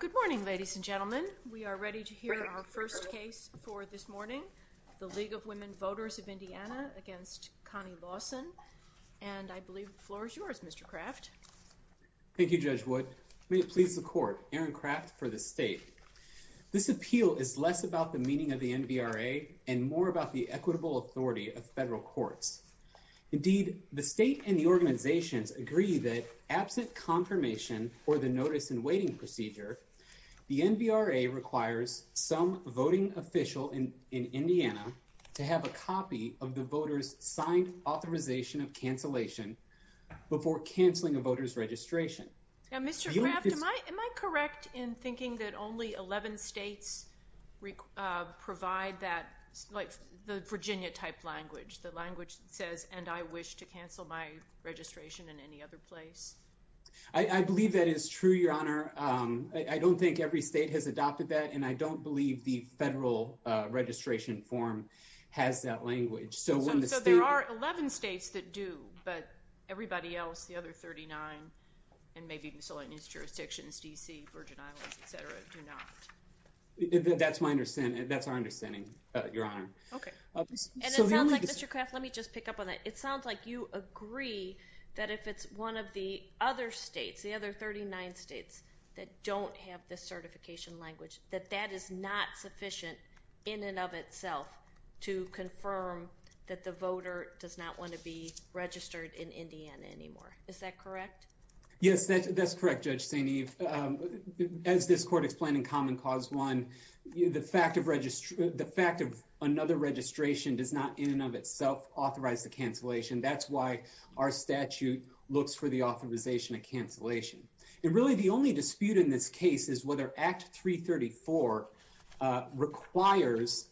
Good morning, ladies and gentlemen. We are ready to hear our first case for this morning, the League of Women Voters of Indiana against Connie Lawson. And I believe the floor is yours, Mr. Kraft. Thank you, Judge Wood. May it please the court, Aaron Kraft for the state. This appeal is less about the meaning of the NBRA and more about the equitable authority of federal courts. Indeed, the state and the organizations agree that absent confirmation or the notice in waiting procedure, the NBRA requires some voting official in in Indiana to have a copy of the voter's signed authorization of cancellation before canceling a voter's registration. Now, Mr. Kraft, am I am I correct in thinking that only 11 states provide that like the Virginia type language, the language says, and I wish to cancel my registration in any other place? I believe that is true, Your Honor. I don't think every state has adopted that, and I don't believe the federal registration form has that language. So there are 11 states that do, but everybody else, the other 39, and maybe miscellaneous jurisdictions, D.C., Virgin Islands, et cetera, do not. That's my understanding. That's our understanding, Your Honor. Okay. And it sounds like, Mr. Kraft, let me just pick up on that. It sounds like you agree that if it's one of the other states, the other 39 states that don't have this certification language, that that is not sufficient in and of itself to confirm that the voter does not want to be registered in Indiana anymore. Is that correct? Yes, that's correct, Judge St. Eve. As this court explained in Common Cause 1, the fact of another registration does not, in and of itself, authorize the cancellation. That's why our statute looks for the authorization of cancellation. And really, the only dispute in this case is whether Act 334 requires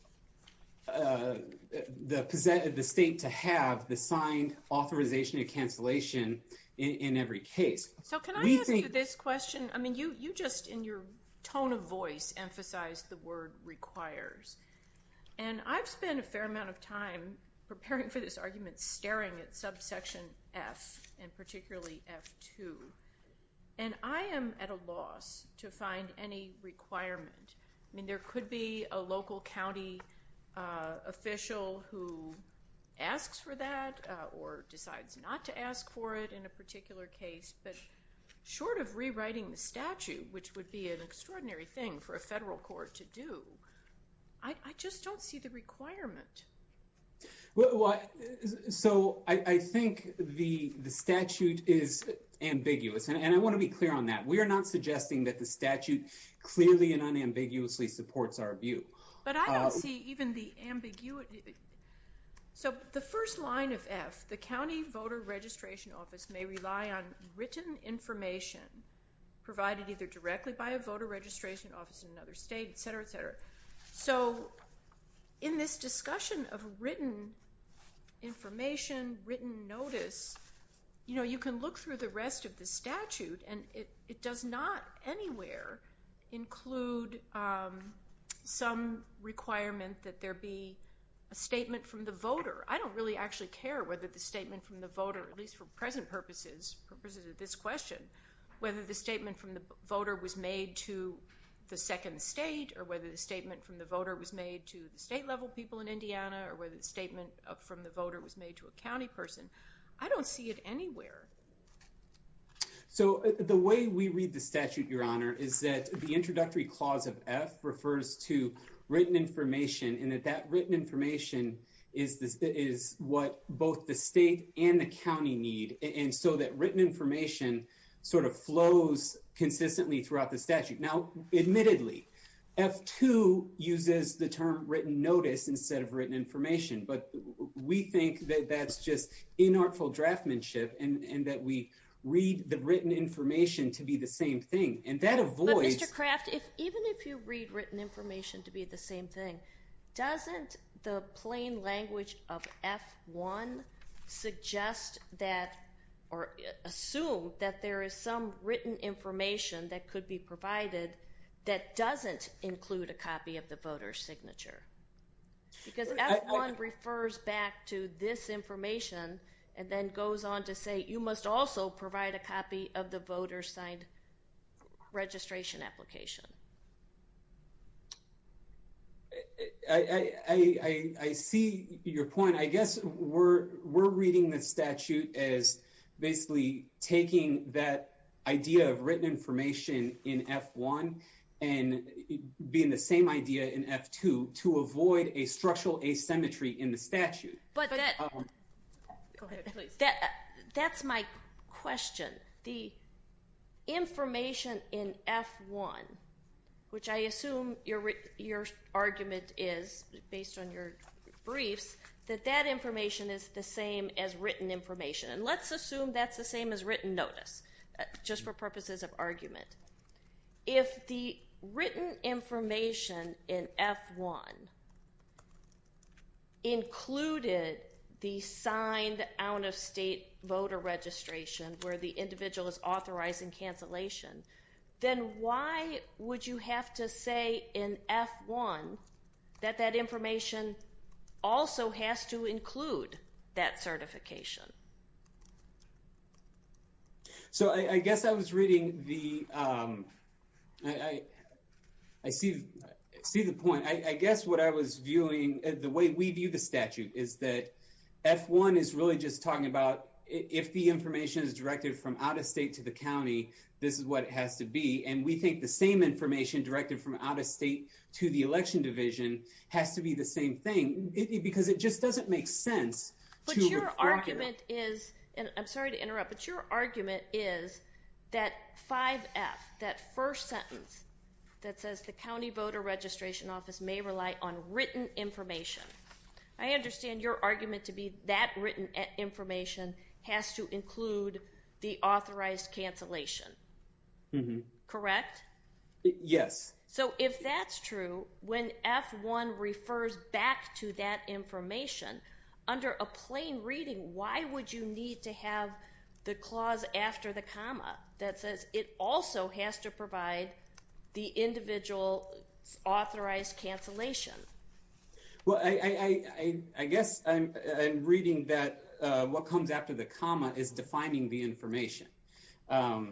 the state to have the signed authorization of cancellation in every case. So can I ask you this question? I mean, you just, in your tone of voice, emphasized the word requires. And I've spent a fair amount of time preparing for this argument, staring at subsection F, and particularly F2. And I am at a loss to find any requirement. I mean, there could be a local county official who asks for that or decides not to ask for it in a particular case. But short of rewriting the statute, which would be an extraordinary thing for a federal court to do, I just don't see the requirement. So I think the statute is ambiguous. And I want to be clear on that. We are not suggesting that the statute clearly and unambiguously supports our view. But I don't see even the ambiguity. So the first line of F, the county voter registration office may rely on written information provided either directly by a state. So in this discussion of written information, written notice, you can look through the rest of the statute, and it does not anywhere include some requirement that there be a statement from the voter. I don't really actually care whether the statement from the voter, at least for present purposes, purposes of this question, whether the statement from the voter was made to the second state or whether the statement from the voter was made to the state-level people in Indiana or whether the statement from the voter was made to a county person. I don't see it anywhere. So the way we read the statute, Your Honor, is that the introductory clause of F refers to written information and that that written information is what both the state and the sort of flows consistently throughout the statute. Now, admittedly, F2 uses the term written notice instead of written information, but we think that that's just inartful draftsmanship and that we read the written information to be the same thing. And that avoids- But Mr. Craft, even if you read written information to be the same thing, doesn't the plain language of F1 suggest that or assume that there is some written information that could be provided that doesn't include a copy of the voter's signature? Because F1 refers back to this information and then goes on to say you must also provide a copy of the voter's signed registration application. I see your point. I guess we're reading the statute as basically taking that idea of written information in F1 and being the same idea in F2 to avoid a structural asymmetry in the statute. But that's my question. The information in F1, which I assume your argument is based on your briefs, that that information is the same as written information. And let's assume that's the same as written notice, just for purposes of argument. If the written information in F1 included the signed out-of-state voter registration where the individual is authorizing cancellation, then why would you have to say in F1 that that information also has to include that certification? So I guess I was reading the, I see the point. I guess what I was viewing, the way we view the statute is that F1 is really just talking about if the information is directed from out-of-state to the county, this is what it has to be. And we think the same information directed from out-of-state to the election division has to be the same thing. Because it just doesn't make sense. But your argument is, and I'm sorry to interrupt, but your argument is that 5F, that first sentence that says the county voter registration office may rely on written information. I understand your argument to be that written information has to include the authorized cancellation. Correct? Yes. So if that's true, when F1 refers back to that information, under a plain reading, why would you need to have the clause after the comma that says it also has to provide the individual's authorized cancellation? Well, I guess I'm reading that what comes after the comma is defining the information. But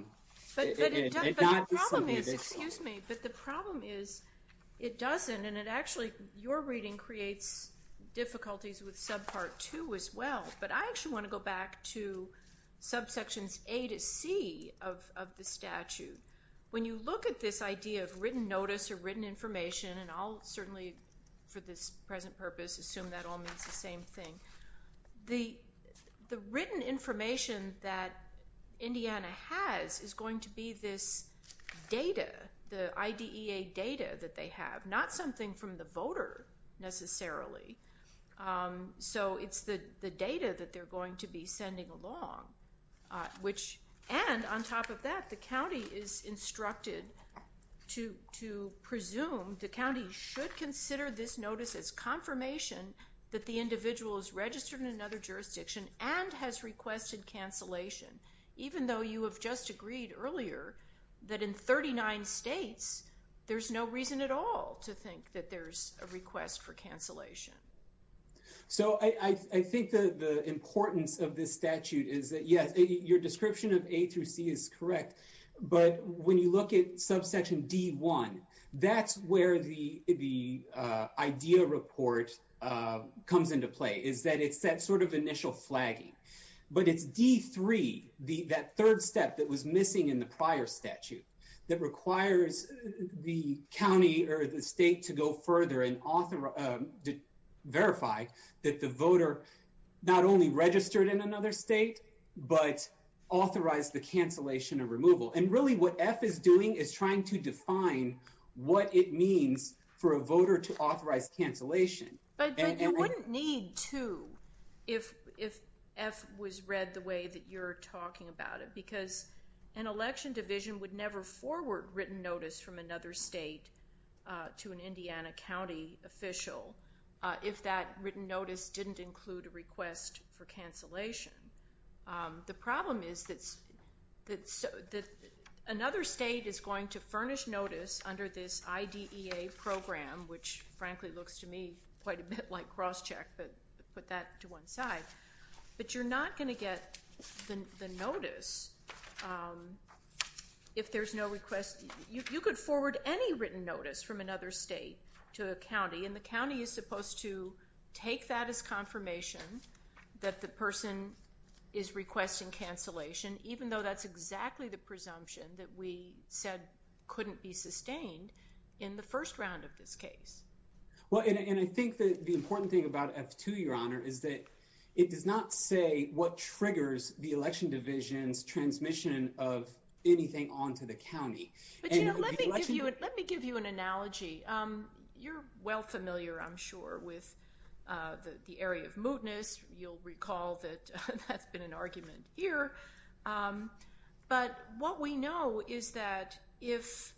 the problem is, excuse me, but the problem is it doesn't, and it actually, your reading creates difficulties with subpart 2 as well. But I actually want to go back to subsections A to C of the statute. When you look at this idea of written notice or written information, and I'll certainly, for this present purpose, assume that all means the same thing, the written information that Indiana has is going to be this data, the IDEA data that they have, not something from the voter necessarily. So it's the data that they're going to be sending along, which, and on top of that, the county is instructed to presume, the county should consider this notice as confirmation that the individual is registered in another jurisdiction and has requested cancellation, even though you have just agreed earlier that in 39 states, there's no reason at all to think that there's a request for cancellation. So I think the importance of this statute is that, yes, your description of A through C is correct, but when you look at subsection D1, that's where the IDEA report comes into play, is that it's that sort of initial flagging. But it's D3, that third step that was missing in the prior statute, that requires the county or the state to go further and verify that the voter not only registered in another state, but authorized the cancellation. But you wouldn't need to, if F was read the way that you're talking about it, because an election division would never forward written notice from another state to an Indiana county official if that written notice didn't include a request for cancellation. The problem is that another state is going to furnish notice under this IDEA program, which frankly looks to me quite a bit like cross-check, but put that to one side. But you're not going to get the notice if there's no request. You could forward any written notice from another state to a county, and the county is supposed to take that as confirmation that the person is requesting cancellation, even though that's exactly the presumption that we said couldn't be sustained in the first round of this case. Well, and I think that the important thing about F2, Your Honor, is that it does not say what triggers the election division's transmission of anything onto the county. But let me give you an analogy. You're well familiar, I'm sure, with the area of mootness. You'll recall that that's been an argument here. But what we know is that if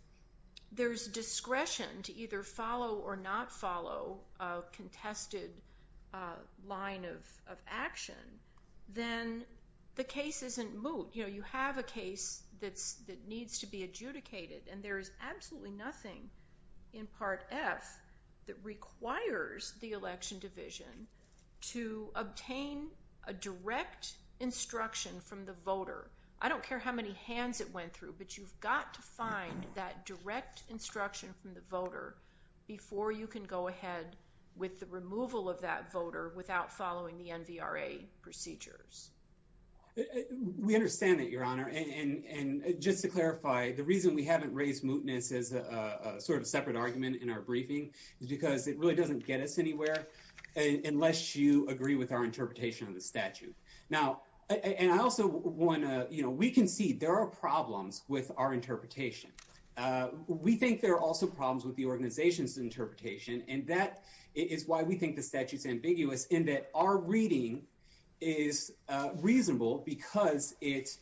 there's discretion to either follow or not follow a contested line of action, then the case isn't moot. You have a case that needs to be adjudicated, and there is absolutely nothing in Part F that requires the election division to obtain a direct instruction from the voter. I don't care how many hands it went through, but you've got to find that direct instruction from the voter before you can go ahead with the removal of that voter without following the NVRA procedures. We understand that, Your Honor. And just to clarify, the reason we haven't raised mootness as a sort of separate argument in our briefing is because it really doesn't get us anywhere unless you agree with our interpretation of the statute. Now, and I also want to, you know, we can see there are problems with our interpretation. We think there are also problems with the organization's interpretation, and that is why we think the statute's ambiguous in that our reading is reasonable because it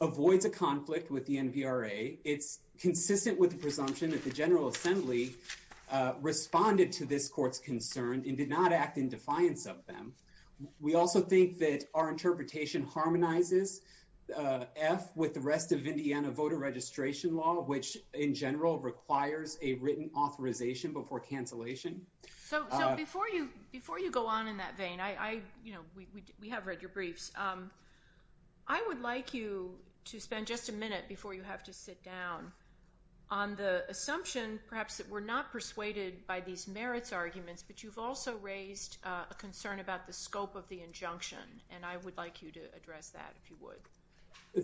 avoids a conflict with the NVRA. It's consistent with the presumption that the General Assembly responded to this court's concern and did not act in defiance of them. We also think that our interpretation harmonizes F with the rest of Indiana voter registration law, which in general requires a written authorization before cancellation. So before you go on in that vein, I, you know, we have read your briefs. I would like you to spend just a minute before you have to sit down on the assumption perhaps that we're not persuaded by these merits arguments, but you've also raised a concern about the scope of the injunction, and I would like you to address that if you would.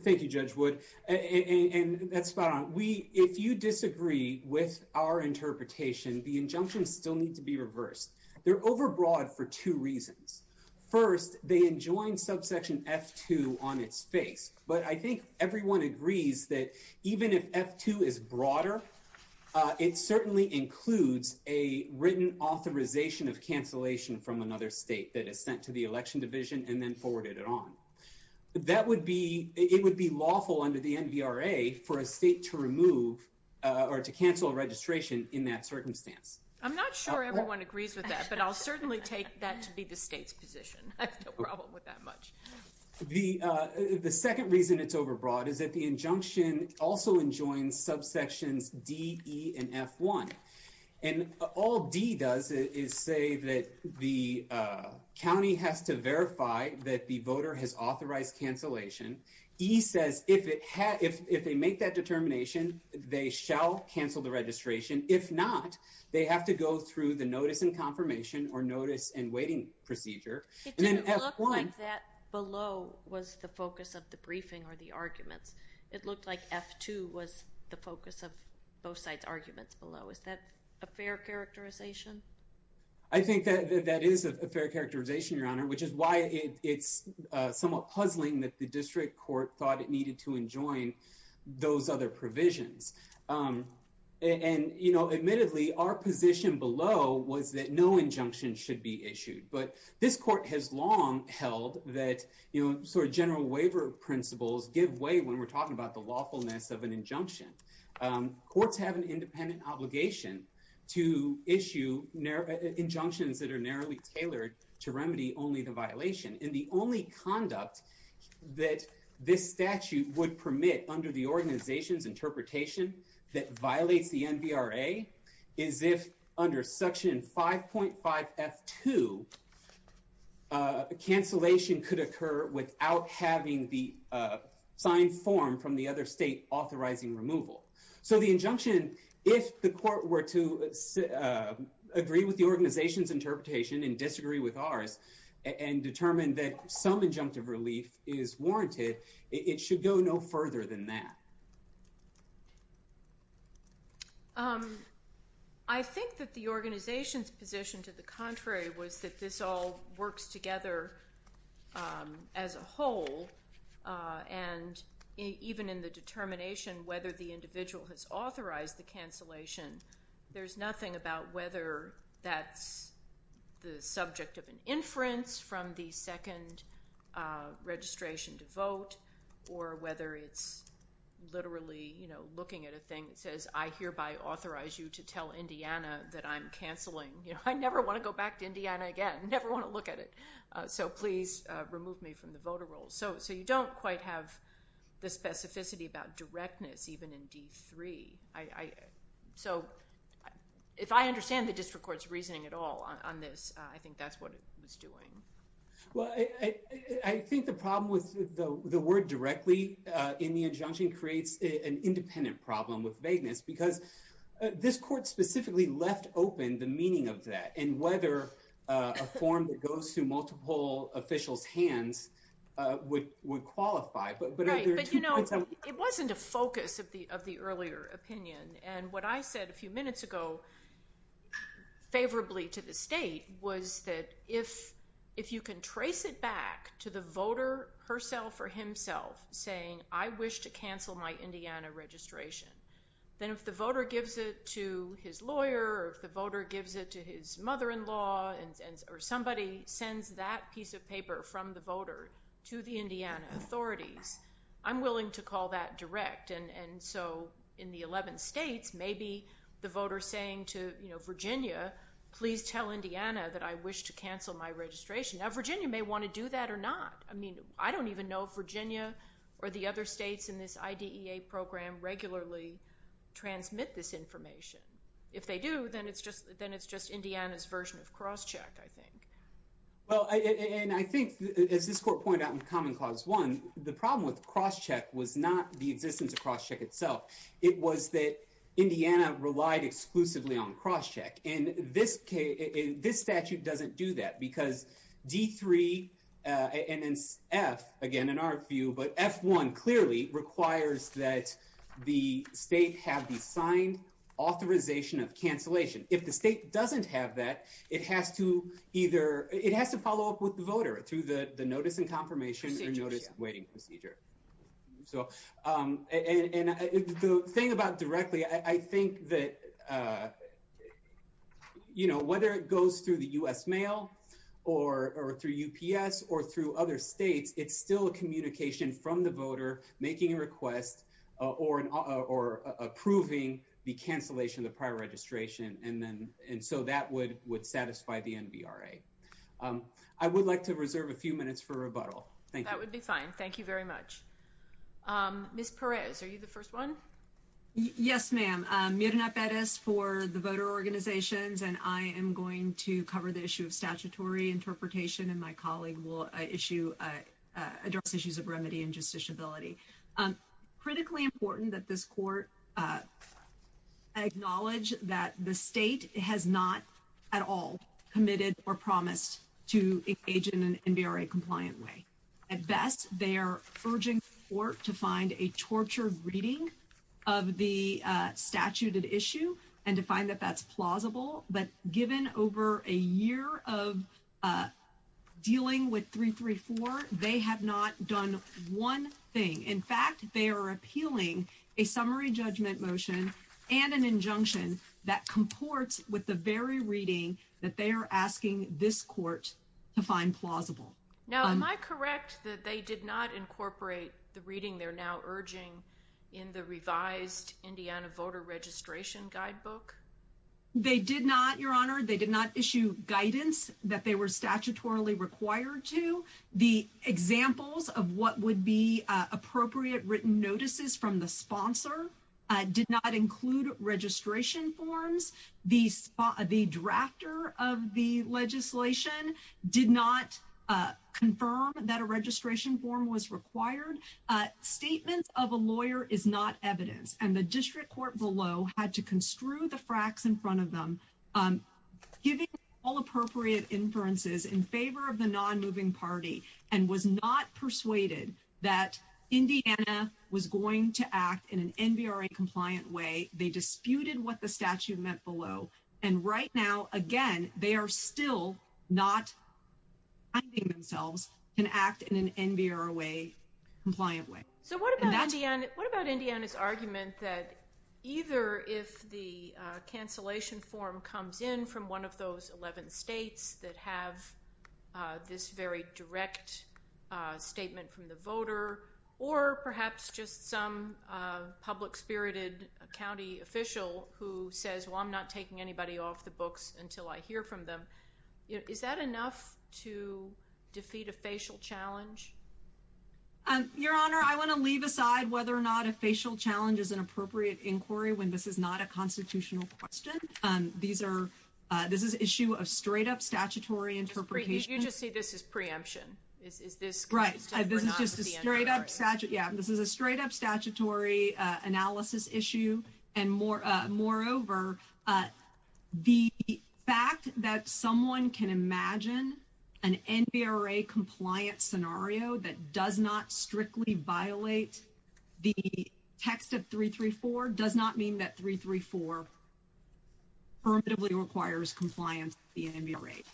Thank you, Judge Wood, and that's fine. We, if you disagree with our interpretation, the injunctions still need to be reversed. They're overbroad for two reasons. First, they enjoined subsection F2 on its face, but I think everyone agrees that even if F2 is broader, it certainly includes a written authorization of cancellation from another state that is sent to the election division and then forwarded on. That would be, it would be lawful under the NVRA for a state to remove or to cancel registration in that circumstance. I'm not sure everyone agrees with that, but I'll certainly take that to be the state's position. I have no problem with that much. The second reason it's overbroad is that the injunction also enjoins subsections D, E, and F1, and all D does is say that the county has to verify that the voter has authorized cancellation. E says if they make that determination, they shall cancel the registration. If not, they have to go through the notice and confirmation or notice and waiting procedure. It didn't look like that below was the focus of the briefing or the arguments. It looked like F2 was the focus of both sides' arguments below. Is that a fair characterization? I think that is a fair characterization, Your Honor, which is why it's somewhat puzzling that the district court thought it needed to enjoin those other provisions. Admittedly, our position below was that no injunction should be issued, but this court has long held that general waiver principles give way when we're talking about the lawfulness of an injunction. Courts have an independent obligation to issue injunctions that are narrowly tailored to remedy only the violation, and the only conduct that this statute would permit under the organization's interpretation that violates the NVRA is if under section 5.5 F2, cancellation could occur without having the signed form from the other state authorizing removal. So the injunction, if the court were to agree with the organization's interpretation and disagree with ours and determine that some injunctive relief is warranted, it should go no further than that. I think that the organization's position, to the contrary, was that this all works together as a whole, and even in the determination whether the individual has authorized the cancellation, there's nothing about whether that's the subject of an inference from the second registration to I hereby authorize you to tell Indiana that I'm canceling. I never want to go back to Indiana again. I never want to look at it. So please remove me from the voter roll. So you don't quite have the specificity about directness even in D3. So if I understand the district court's reasoning at all on this, I think that's what it was doing. Well, I think the problem with the word directly in the injunction creates an independent problem with vagueness because this court specifically left open the meaning of that and whether a form that goes through multiple officials' hands would qualify. It wasn't a focus of the earlier opinion, and what I said a few minutes ago favorably to the state was that if you can trace it back to the voter herself or himself saying, I wish to cancel my Indiana registration, then if the voter gives it to his lawyer or if the voter gives it to his mother-in-law or somebody sends that piece of paper from the voter to the Indiana authorities, I'm willing to call that direct. And so in the 11 states, maybe the please tell Indiana that I wish to cancel my registration. Now, Virginia may want to do that or not. I mean, I don't even know if Virginia or the other states in this IDEA program regularly transmit this information. If they do, then it's just Indiana's version of crosscheck, I think. Well, and I think as this court pointed out in Common Clause 1, the problem with crosscheck was the existence of crosscheck itself. It was that Indiana relied exclusively on crosscheck, and this statute doesn't do that because D3 and then F, again, in our view, but F1 clearly requires that the state have the signed authorization of cancellation. If the state doesn't have that, it has to either, it has to follow up with the voter through the notice and procedure. So, and the thing about directly, I think that, you know, whether it goes through the U.S. mail or through UPS or through other states, it's still a communication from the voter making a request or approving the cancellation of the prior registration. And so that would satisfy the NVRA. I would like to reserve a few minutes for rebuttal. Thank you. That would be fine. Thank you very much. Ms. Perez, are you the first one? Yes, ma'am. Myrna Perez for the voter organizations, and I am going to cover the issue of statutory interpretation and my colleague will issue, address issues of remedy and justiciability. Critically important that this court acknowledge that the state has not at all committed or promised to engage in an NVRA compliant way. At best, they are urging the court to find a tortured reading of the statuted issue and to find that that's plausible. But given over a year of dealing with 334, they have not done one thing. In fact, they are appealing a summary judgment motion and an injunction that comports with the very reading that they are asking this court to find plausible. Now, am I correct that they did not incorporate the reading they're now urging in the revised Indiana voter registration guidebook? They did not, Your Honor. They did not issue guidance that they were statutorily required to. The examples of what would be appropriate written notices from the sponsor did not include registration forms. The drafter of the legislation did not confirm that a registration form was required. Statements of a lawyer is not evidence and the district court below had to construe the party and was not persuaded that Indiana was going to act in an NVRA compliant way. They disputed what the statute meant below. And right now, again, they are still not finding themselves can act in an NVRA compliant way. So what about Indiana's argument that either if the cancellation form comes in from one of those 11 states that have this very direct statement from the voter, or perhaps just some public spirited county official who says, well, I'm not taking anybody off the books until I hear from them. Is that enough to defeat a facial challenge? Your Honor, I want to leave aside whether or not a facial challenge is an appropriate inquiry when this is not a constitutional question. These are this is issue of straight up statutory interpretation. You just say this is preemption. Is this right? This is just a straight up statute. Yeah, this is a straight up statutory analysis issue. And more moreover, the fact that someone can imagine an NVRA compliant scenario that does not strictly violate the text of 334 does not mean that 334 permittably requires compliance.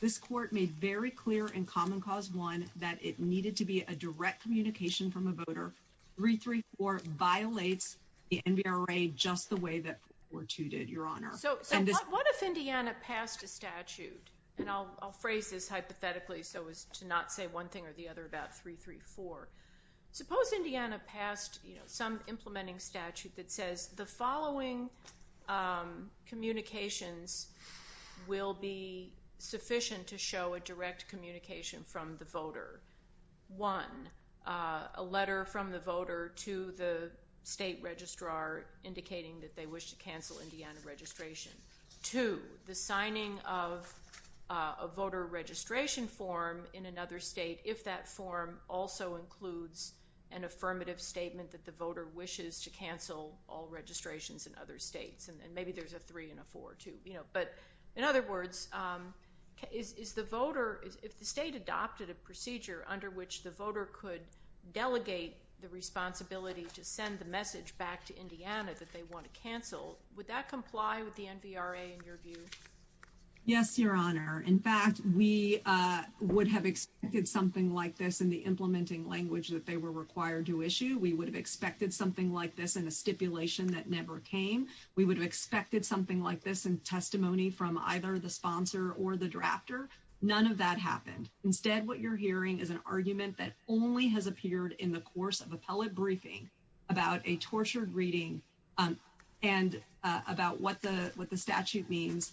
This court made very clear in Common Cause 1 that it needed to be a direct communication from a voter. 334 violates the NVRA just the way that 42 did, Your Honor. So what if Indiana passed a statute, and I'll phrase this hypothetically so as to not say one thing or the other about 334. Suppose Indiana passed some implementing statute that says the following communications will be sufficient to show a direct communication from the voter. One, a letter from the voter to the state registrar indicating that they wish to cancel registration. Two, the signing of a voter registration form in another state if that form also includes an affirmative statement that the voter wishes to cancel all registrations in other states. And maybe there's a three and a four too. But in other words, if the state adopted a procedure under which the voter could delegate the responsibility to send the message back to Indiana that they want to cancel, would that comply with the NVRA in your view? Yes, Your Honor. In fact, we would have expected something like this in the implementing language that they were required to issue. We would have expected something like this in a stipulation that never came. We would have expected something like this in testimony from either the sponsor or the drafter. None of that happened. Instead, what you're hearing is an argument that only has appeared in the course of appellate briefing about a tortured reading and about what the statute means.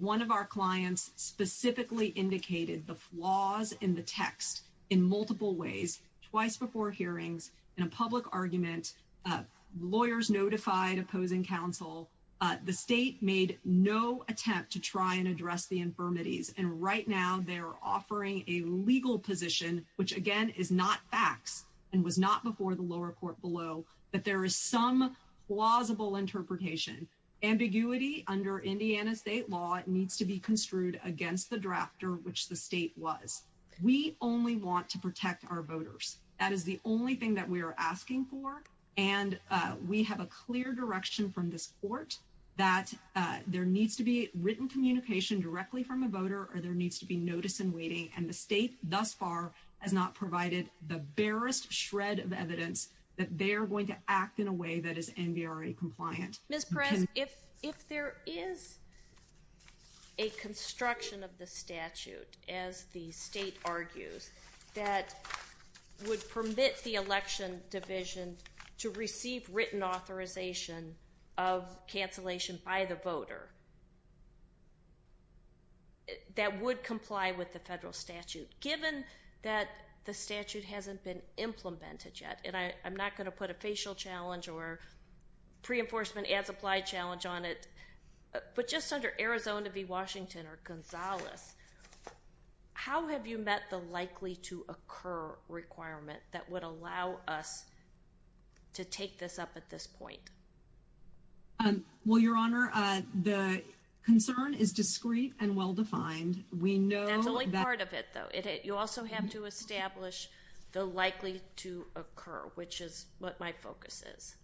One of our clients specifically indicated the flaws in the text in multiple ways, twice before hearings, in a public argument. Lawyers notified opposing counsel. The state made no attempt to try and address the infirmities. And right now they're offering a legal position, which again is not facts and was not before the lower court below, but there is some plausible interpretation. Ambiguity under Indiana state law needs to be construed against the drafter, which the state was. We only want to protect our voters. That is the only thing that we are asking for. And we have a clear direction from this court that there needs to be written communication directly from a voter or there needs to be notice in waiting. And the state thus far has not provided the barest shred of evidence that they are going to act in a way that is NVRA compliant. Ms. Perez, if there is a construction of the statute, as the state argues, that would permit the election division to receive written authorization of cancellation by the that would comply with the federal statute, given that the statute hasn't been implemented yet. And I'm not going to put a facial challenge or pre-enforcement as applied challenge on it, but just under Arizona v. Washington or Gonzales, how have you met the likely to occur requirement that would allow us to take this up at this point? Well, Your Honor, the concern is discreet and well-defined. We know that... That's only part of it, though. You also have to establish the likely to occur, which is what my focus is.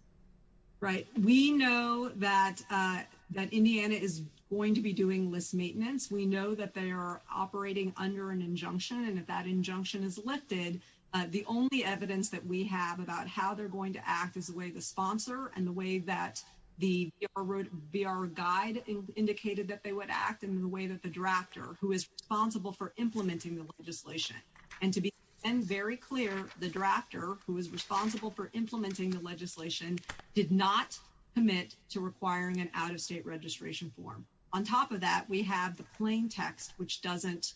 Right. We know that Indiana is going to be doing list maintenance. We know that they are operating under an injunction. And if that injunction is lifted, the only evidence that we have about how they're going to act is the way the sponsor and the way that the VR guide indicated that they would act and the way that the drafter, who is responsible for implementing the legislation. And to be very clear, the drafter, who is responsible for implementing the legislation, did not commit to requiring an out-of-state registration form. On top of that, we have the plain text, which doesn't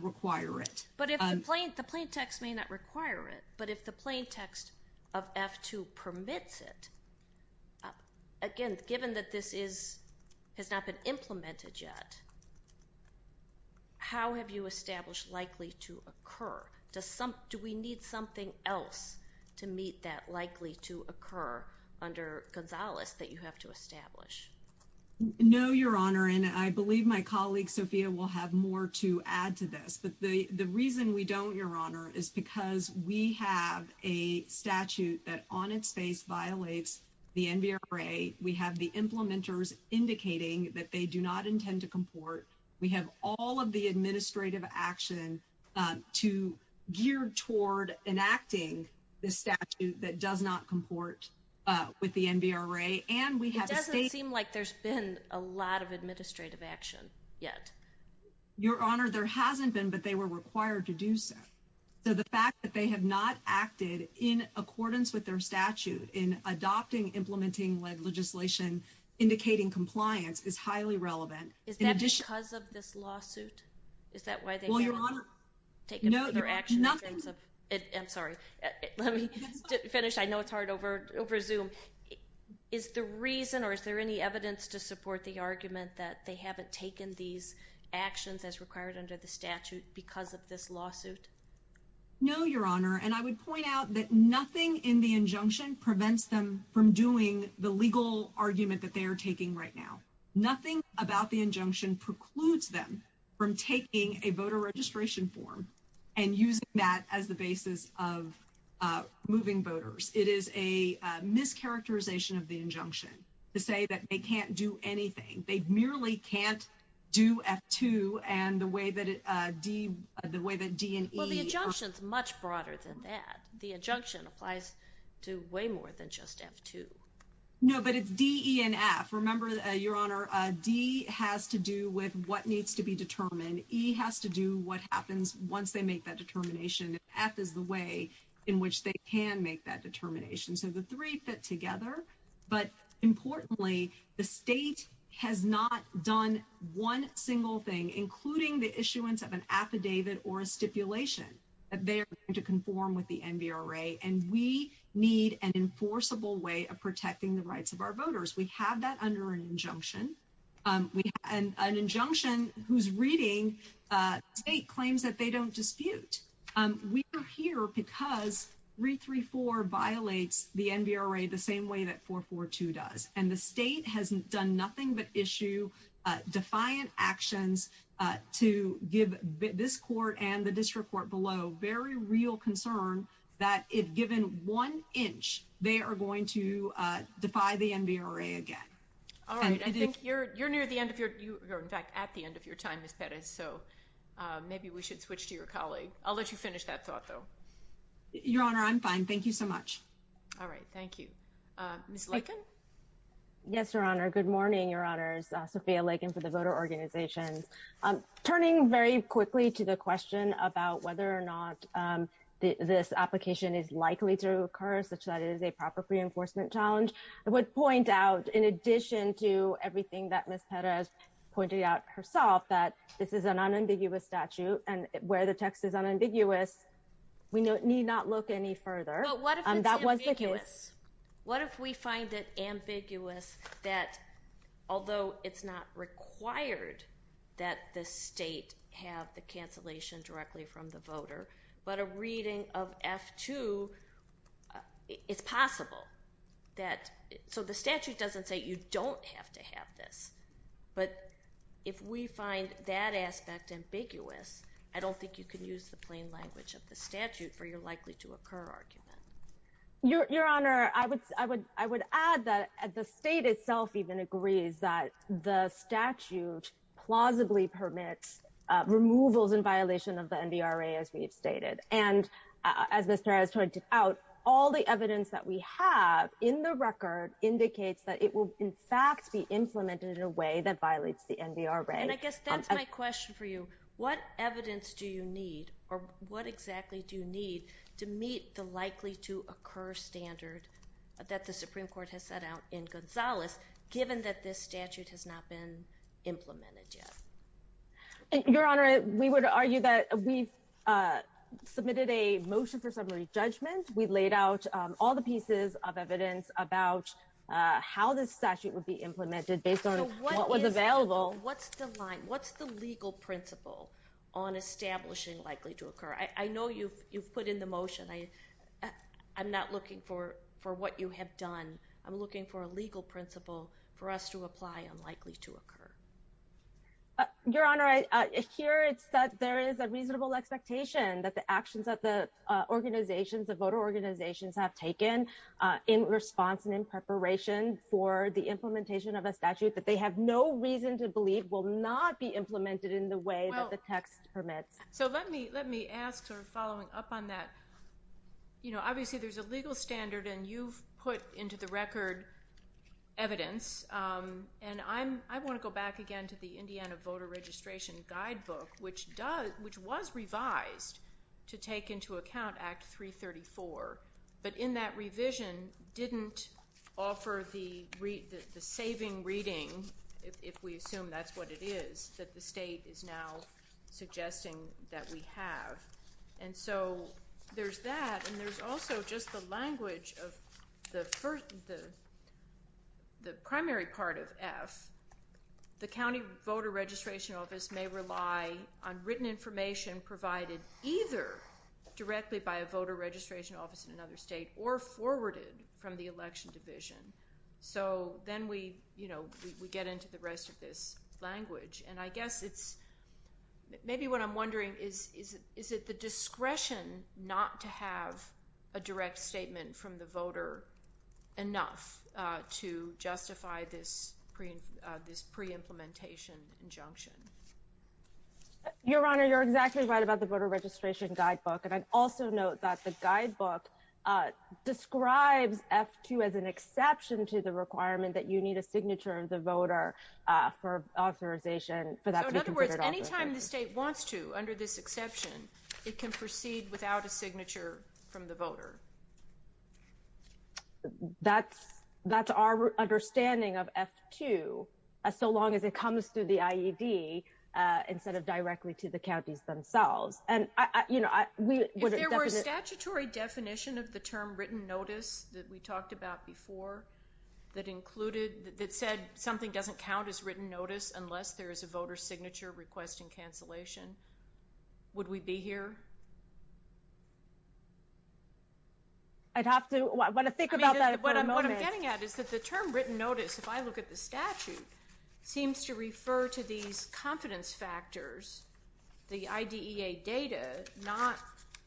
require it. But if the plain text may not require it, but if the plain text of F-2 permits it, again, given that this has not been implemented yet, how have you established likely to occur? Do we need something else to meet that likely to occur under Gonzales that you have to establish? No, Your Honor. And I believe my colleague, Sophia, will have more to add to this. But the reason we don't, Your Honor, is because we have a statute that on its face violates the NBRA. We have the implementers indicating that they do not intend to comport. We have all of the administrative action to gear toward enacting the statute that does not comport with the NBRA. And we have a state. It doesn't seem like there's been a lot of administrative action yet. Your Honor, there hasn't been, but they were required to do so. So the fact that they have not acted in accordance with their statute in adopting implementing legislation indicating compliance is highly relevant. Is that because of this lawsuit? Is that why they can't take further action? I'm sorry, let me finish. I know it's hard over Zoom. Is the reason or is there any evidence to support the argument that they haven't taken these actions as required under the statute because of this lawsuit? No, Your Honor, and I would point out that nothing in the injunction prevents them from doing the legal argument that they are taking right now. Nothing about the injunction precludes them from taking a voter registration form and using that as the basis of moving voters. It is a mischaracterization of the injunction to say that they can't do anything. They merely can't do F-2 and the way that D and E. Well, the injunction is much broader than that. The injunction applies to way more than just F-2. No, but it's D, E, and F. Remember, Your Honor, D has to do with what needs to be determined. E has to do what happens once they make that determination. F is the way in which they can make that determination. So the three fit together. But importantly, the state has not done one single thing, including the issuance of an affidavit or a stipulation, that they are going to conform with the NVRA and we need an enforceable way of protecting the rights of our voters. We have that under an injunction. An injunction whose reading state claims that they don't dispute. We are here because 334 violates the NVRA the same way that 442 does. And the state has done nothing but issue defiant actions to give this court and district court below very real concern that if given one inch, they are going to defy the NVRA again. All right. I think you're near the end of your time, Ms. Perez, so maybe we should switch to your colleague. I'll let you finish that thought, though. Your Honor, I'm fine. Thank you so much. All right. Thank you. Ms. Lakin? Yes, Your Honor. Good morning, Your Honors. Sophia Lakin for the Voter Organization. Turning very quickly to the question about whether or not this application is likely to occur, such that it is a proper reinforcement challenge, I would point out, in addition to everything that Ms. Perez pointed out herself, that this is an unambiguous statute and where the text is unambiguous, we need not look any further. What if it's ambiguous? What if we find it ambiguous that, although it's not required that the state have the cancellation directly from the voter, but a reading of F-2, it's possible that, so the statute doesn't say you don't have to have this, but if we find that aspect ambiguous, I don't think you can use the plain language of the statute for your likely to occur argument. Your Honor, I would add that the state itself even agrees that the statute plausibly permits removals in violation of the NBRA, as we've stated. And as Ms. Perez pointed out, all the evidence that we have in the record indicates that it will, in fact, be implemented in a way that violates the NBRA. And I guess that's my question for you. What evidence do you meet the likely to occur standard that the Supreme Court has set out in Gonzales, given that this statute has not been implemented yet? Your Honor, we would argue that we've submitted a motion for summary judgment. We laid out all the pieces of evidence about how this statute would be implemented based on what was available. What's the legal principle on establishing likely to occur? I'm not looking for what you have done. I'm looking for a legal principle for us to apply on likely to occur. Your Honor, here it's that there is a reasonable expectation that the actions that the organizations, the voter organizations, have taken in response and in preparation for the implementation of a statute that they have no reason to believe will not be implemented in the way that the text permits. So let me ask, sort of following up on that, you know, obviously there's a legal standard and you've put into the record evidence. And I want to go back again to the Indiana Voter Registration Guidebook, which was revised to take into account Act 334. But in that revision didn't offer the saving reading, if we assume that's what it is, that the state is now suggesting that we have. And so there's that. And there's also just the language of the first, the primary part of F. The county voter registration office may rely on written information provided either directly by a voter registration office in another state or forwarded from the election division. So then we, you know, we get into the rest of this language. And I guess it's maybe what I'm wondering is, is it the discretion not to have a direct statement from the voter enough to justify this pre-implementation injunction? Your Honor, you're exactly right about the Voter Registration Guidebook. And I'd also note that the guidebook describes F-2 as an exception to the requirement that you need a signature of the voter for authorization. So in other words, any time the state wants to, under this exception, it can proceed without a signature from the voter. That's our understanding of F-2, so long as it comes through the IED instead of directly to the counties themselves. And, you know, if there were a statutory definition of the term doesn't count as written notice unless there is a voter signature requesting cancellation, would we be here? I'd have to, I want to think about that. What I'm getting at is that the term written notice, if I look at the statute, seems to refer to these confidence factors, the IDEA data, not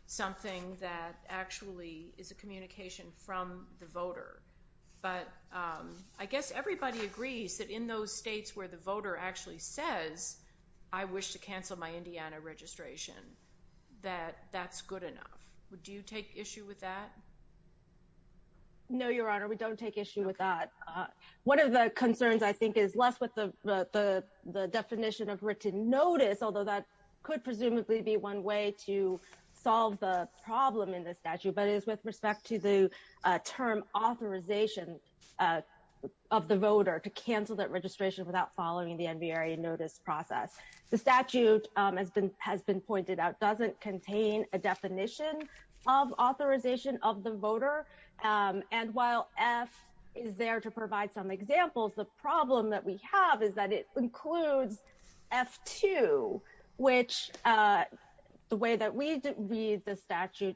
something that actually is a communication from the voter. But I guess everybody agrees that in those states where the voter actually says, I wish to cancel my Indiana registration, that that's good enough. Do you take issue with that? No, Your Honor, we don't take issue with that. One of the concerns, I think, is left with the definition of written notice, although that could presumably be one way to solve the problem with respect to the term authorization of the voter to cancel that registration without following the NVRA notice process. The statute has been pointed out doesn't contain a definition of authorization of the voter. And while F is there to provide some examples, the problem that we have is that it includes F2, which the way that we read the statute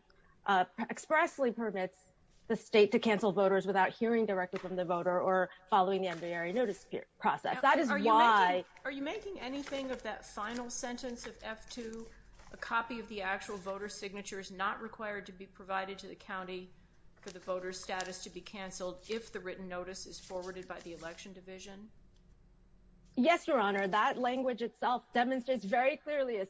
expressly permits the state to cancel voters without hearing directly from the voter or following the NVRA notice process. That is why. Are you making anything of that final sentence of F2, a copy of the actual voter signature is not required to be provided to the county for the voter's status to be canceled if the written notice is forwarded by the election division? Yes, Your Honor, that language itself demonstrates very clearly,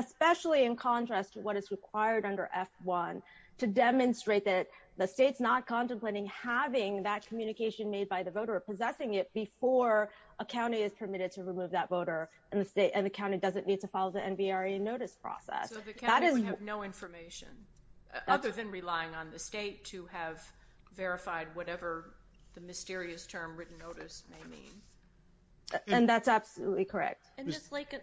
especially in contrast to what is required under F1 to demonstrate that the state's not contemplating having that communication made by the voter or possessing it before a county is permitted to remove that voter and the county doesn't need to follow the NVRA notice process. So the county would have no information other than relying on the state to have verified whatever the mysterious term written notice may mean. And that's absolutely correct. And just like,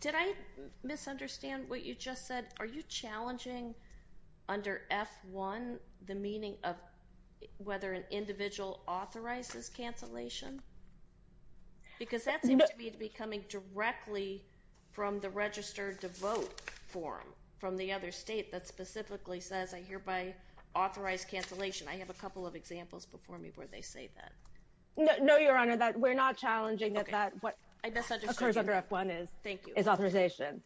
did I misunderstand what you just said? Are you challenging under F1 the meaning of whether an individual authorizes cancellation? Because that seems to be coming directly from the register to vote form from the other state that specifically says I hereby authorize cancellation. I have a couple of examples before me where they say that. No, Your Honor, that we're not challenging that what occurs under F1 is authorization.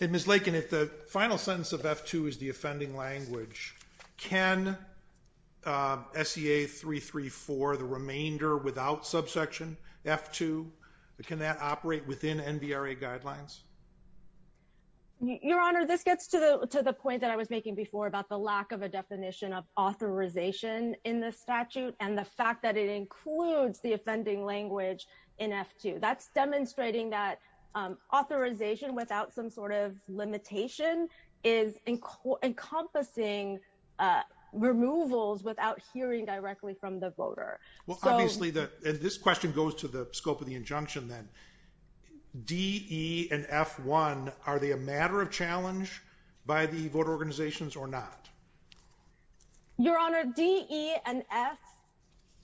And Ms. Lakin, if the final sentence of F2 is the offending language, can SEA 334, the remainder without subsection F2, can that operate within NVRA guidelines? Your Honor, this gets to the point that I was making before about the lack of a definition of authorization in the statute and the fact that it includes the offending language in F2. That's demonstrating that authorization without some sort of limitation is encompassing removals without hearing directly from the voter. Well, obviously, this question goes to the scope of the injunction then. D, E, and F1, are they a matter of challenge by the voter organizations or not? Your Honor, D, E, and F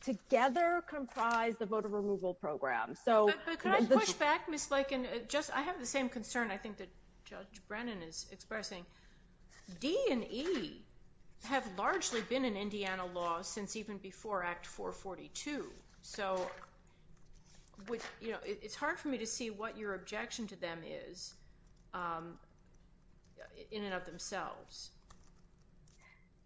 together comprise the voter removal program. But could I push back, Ms. Lakin? I have the same concern I think that Judge Brennan is expressing. D and E have largely been in Indiana law since even before Act 442. So it's hard for me to see what your objection to them is in and of themselves.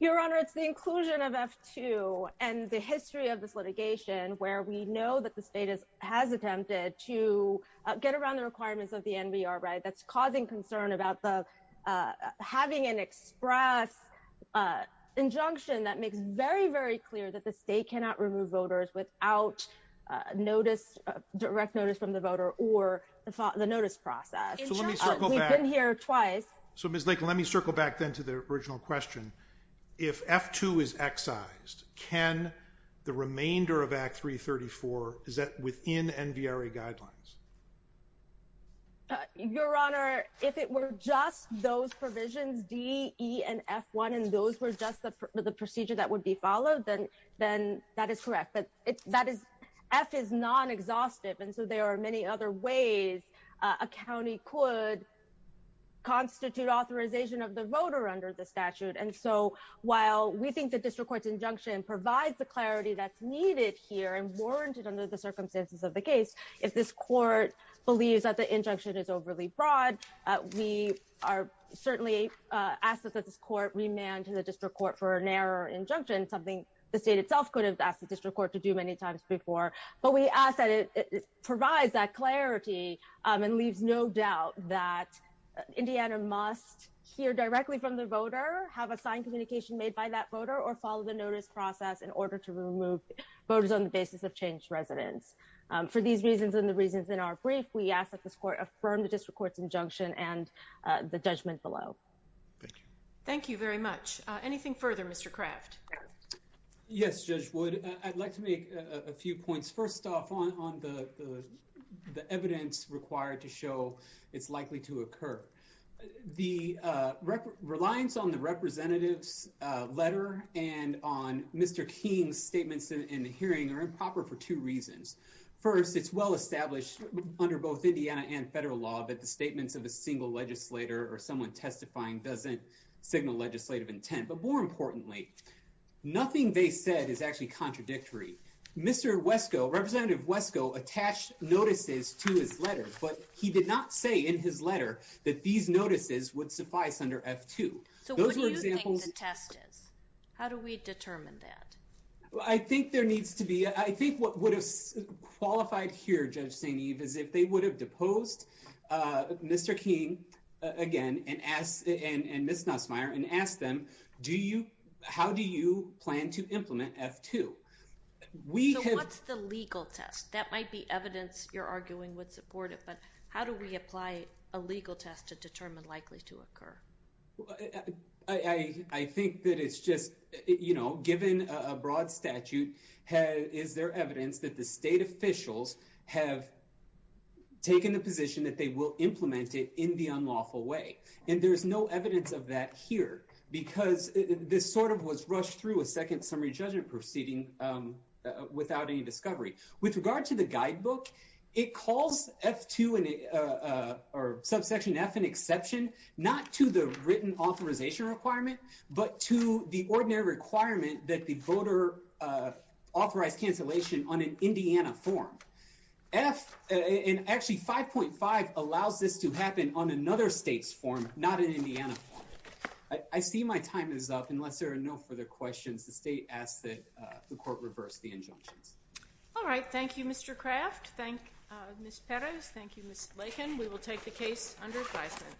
Your Honor, it's the inclusion of F2 and the history of this litigation where we know that the state has attempted to get around the requirements of the NVRA that's causing concern about having an express injunction that makes very, very clear that the state cannot remove voters without direct notice from the voter or the notice process. So let me circle back. We've been here twice. So Ms. Lakin, let me circle back then to the original question. If F2 is excised, can the remainder of Act 334, is that within NVRA guidelines? Your Honor, if it were just those provisions, D, E, and F1, and those were just the procedure that would be followed, then that is correct. But F is non-exhaustive. And so there are many other ways a county could constitute authorization of the voter under the statute. And so while we think the district court's injunction provides the clarity that's needed here and warranted under the circumstances of the case, if this court believes that the injunction is overly broad, we are certainly asked that this court remand to the district court for an error or injunction, something the state itself could have asked the district court to do many times before. But we ask that it provides that clarity and leaves no doubt that Indiana must hear directly from the voter, have a signed communication made by that voter, or follow the notice process in order to remove voters on the basis of changed residence. For these reasons and the reasons in our brief, we ask that this court affirm the district court's injunction and the judgment below. Thank you. Thank you very much. Anything further, Mr. Kraft? Yes, Judge Wood. I'd like to make a few points. First off, on the evidence required to show it's likely to occur. The reliance on the representative's letter and on Mr. King's statements in the hearing are improper for two reasons. First, it's well-established under both Indiana and federal law that the statements of a single legislator or someone testifying doesn't signal legislative intent. But more importantly, nothing they said is actually contradictory. Mr. Wesko, Representative Wesko, attached notices to his letter, but he did not say in his letter that these notices would suffice under F-2. So what do you think the test is? How do we determine that? I think there needs to be, I think what would have been a legal test. That might be evidence you're arguing would support it, but how do we apply a legal test to determine likely to occur? I think that it's just, you know, given a broad statute, is there evidence that the state officials have taken the position that they will implement it in the unlawful way? And there's no evidence of that here because this sort of was rushed through a second summary judgment proceeding without any discovery. With regard to the guidebook, it calls F-2 or subsection F an exception, not to the written authorization requirement, but to the ordinary requirement that the voter authorize cancellation on an Indiana form. And actually, 5.5 allows this to happen on another state's form, not an Indiana form. I see my time is up. Unless there are no further questions, the state asks that the court reverse the injunctions. All right. Thank you, Mr. Kraft. Thank you, Ms. Perez. Thank you, Ms. Lakin. We will take the case under advisement.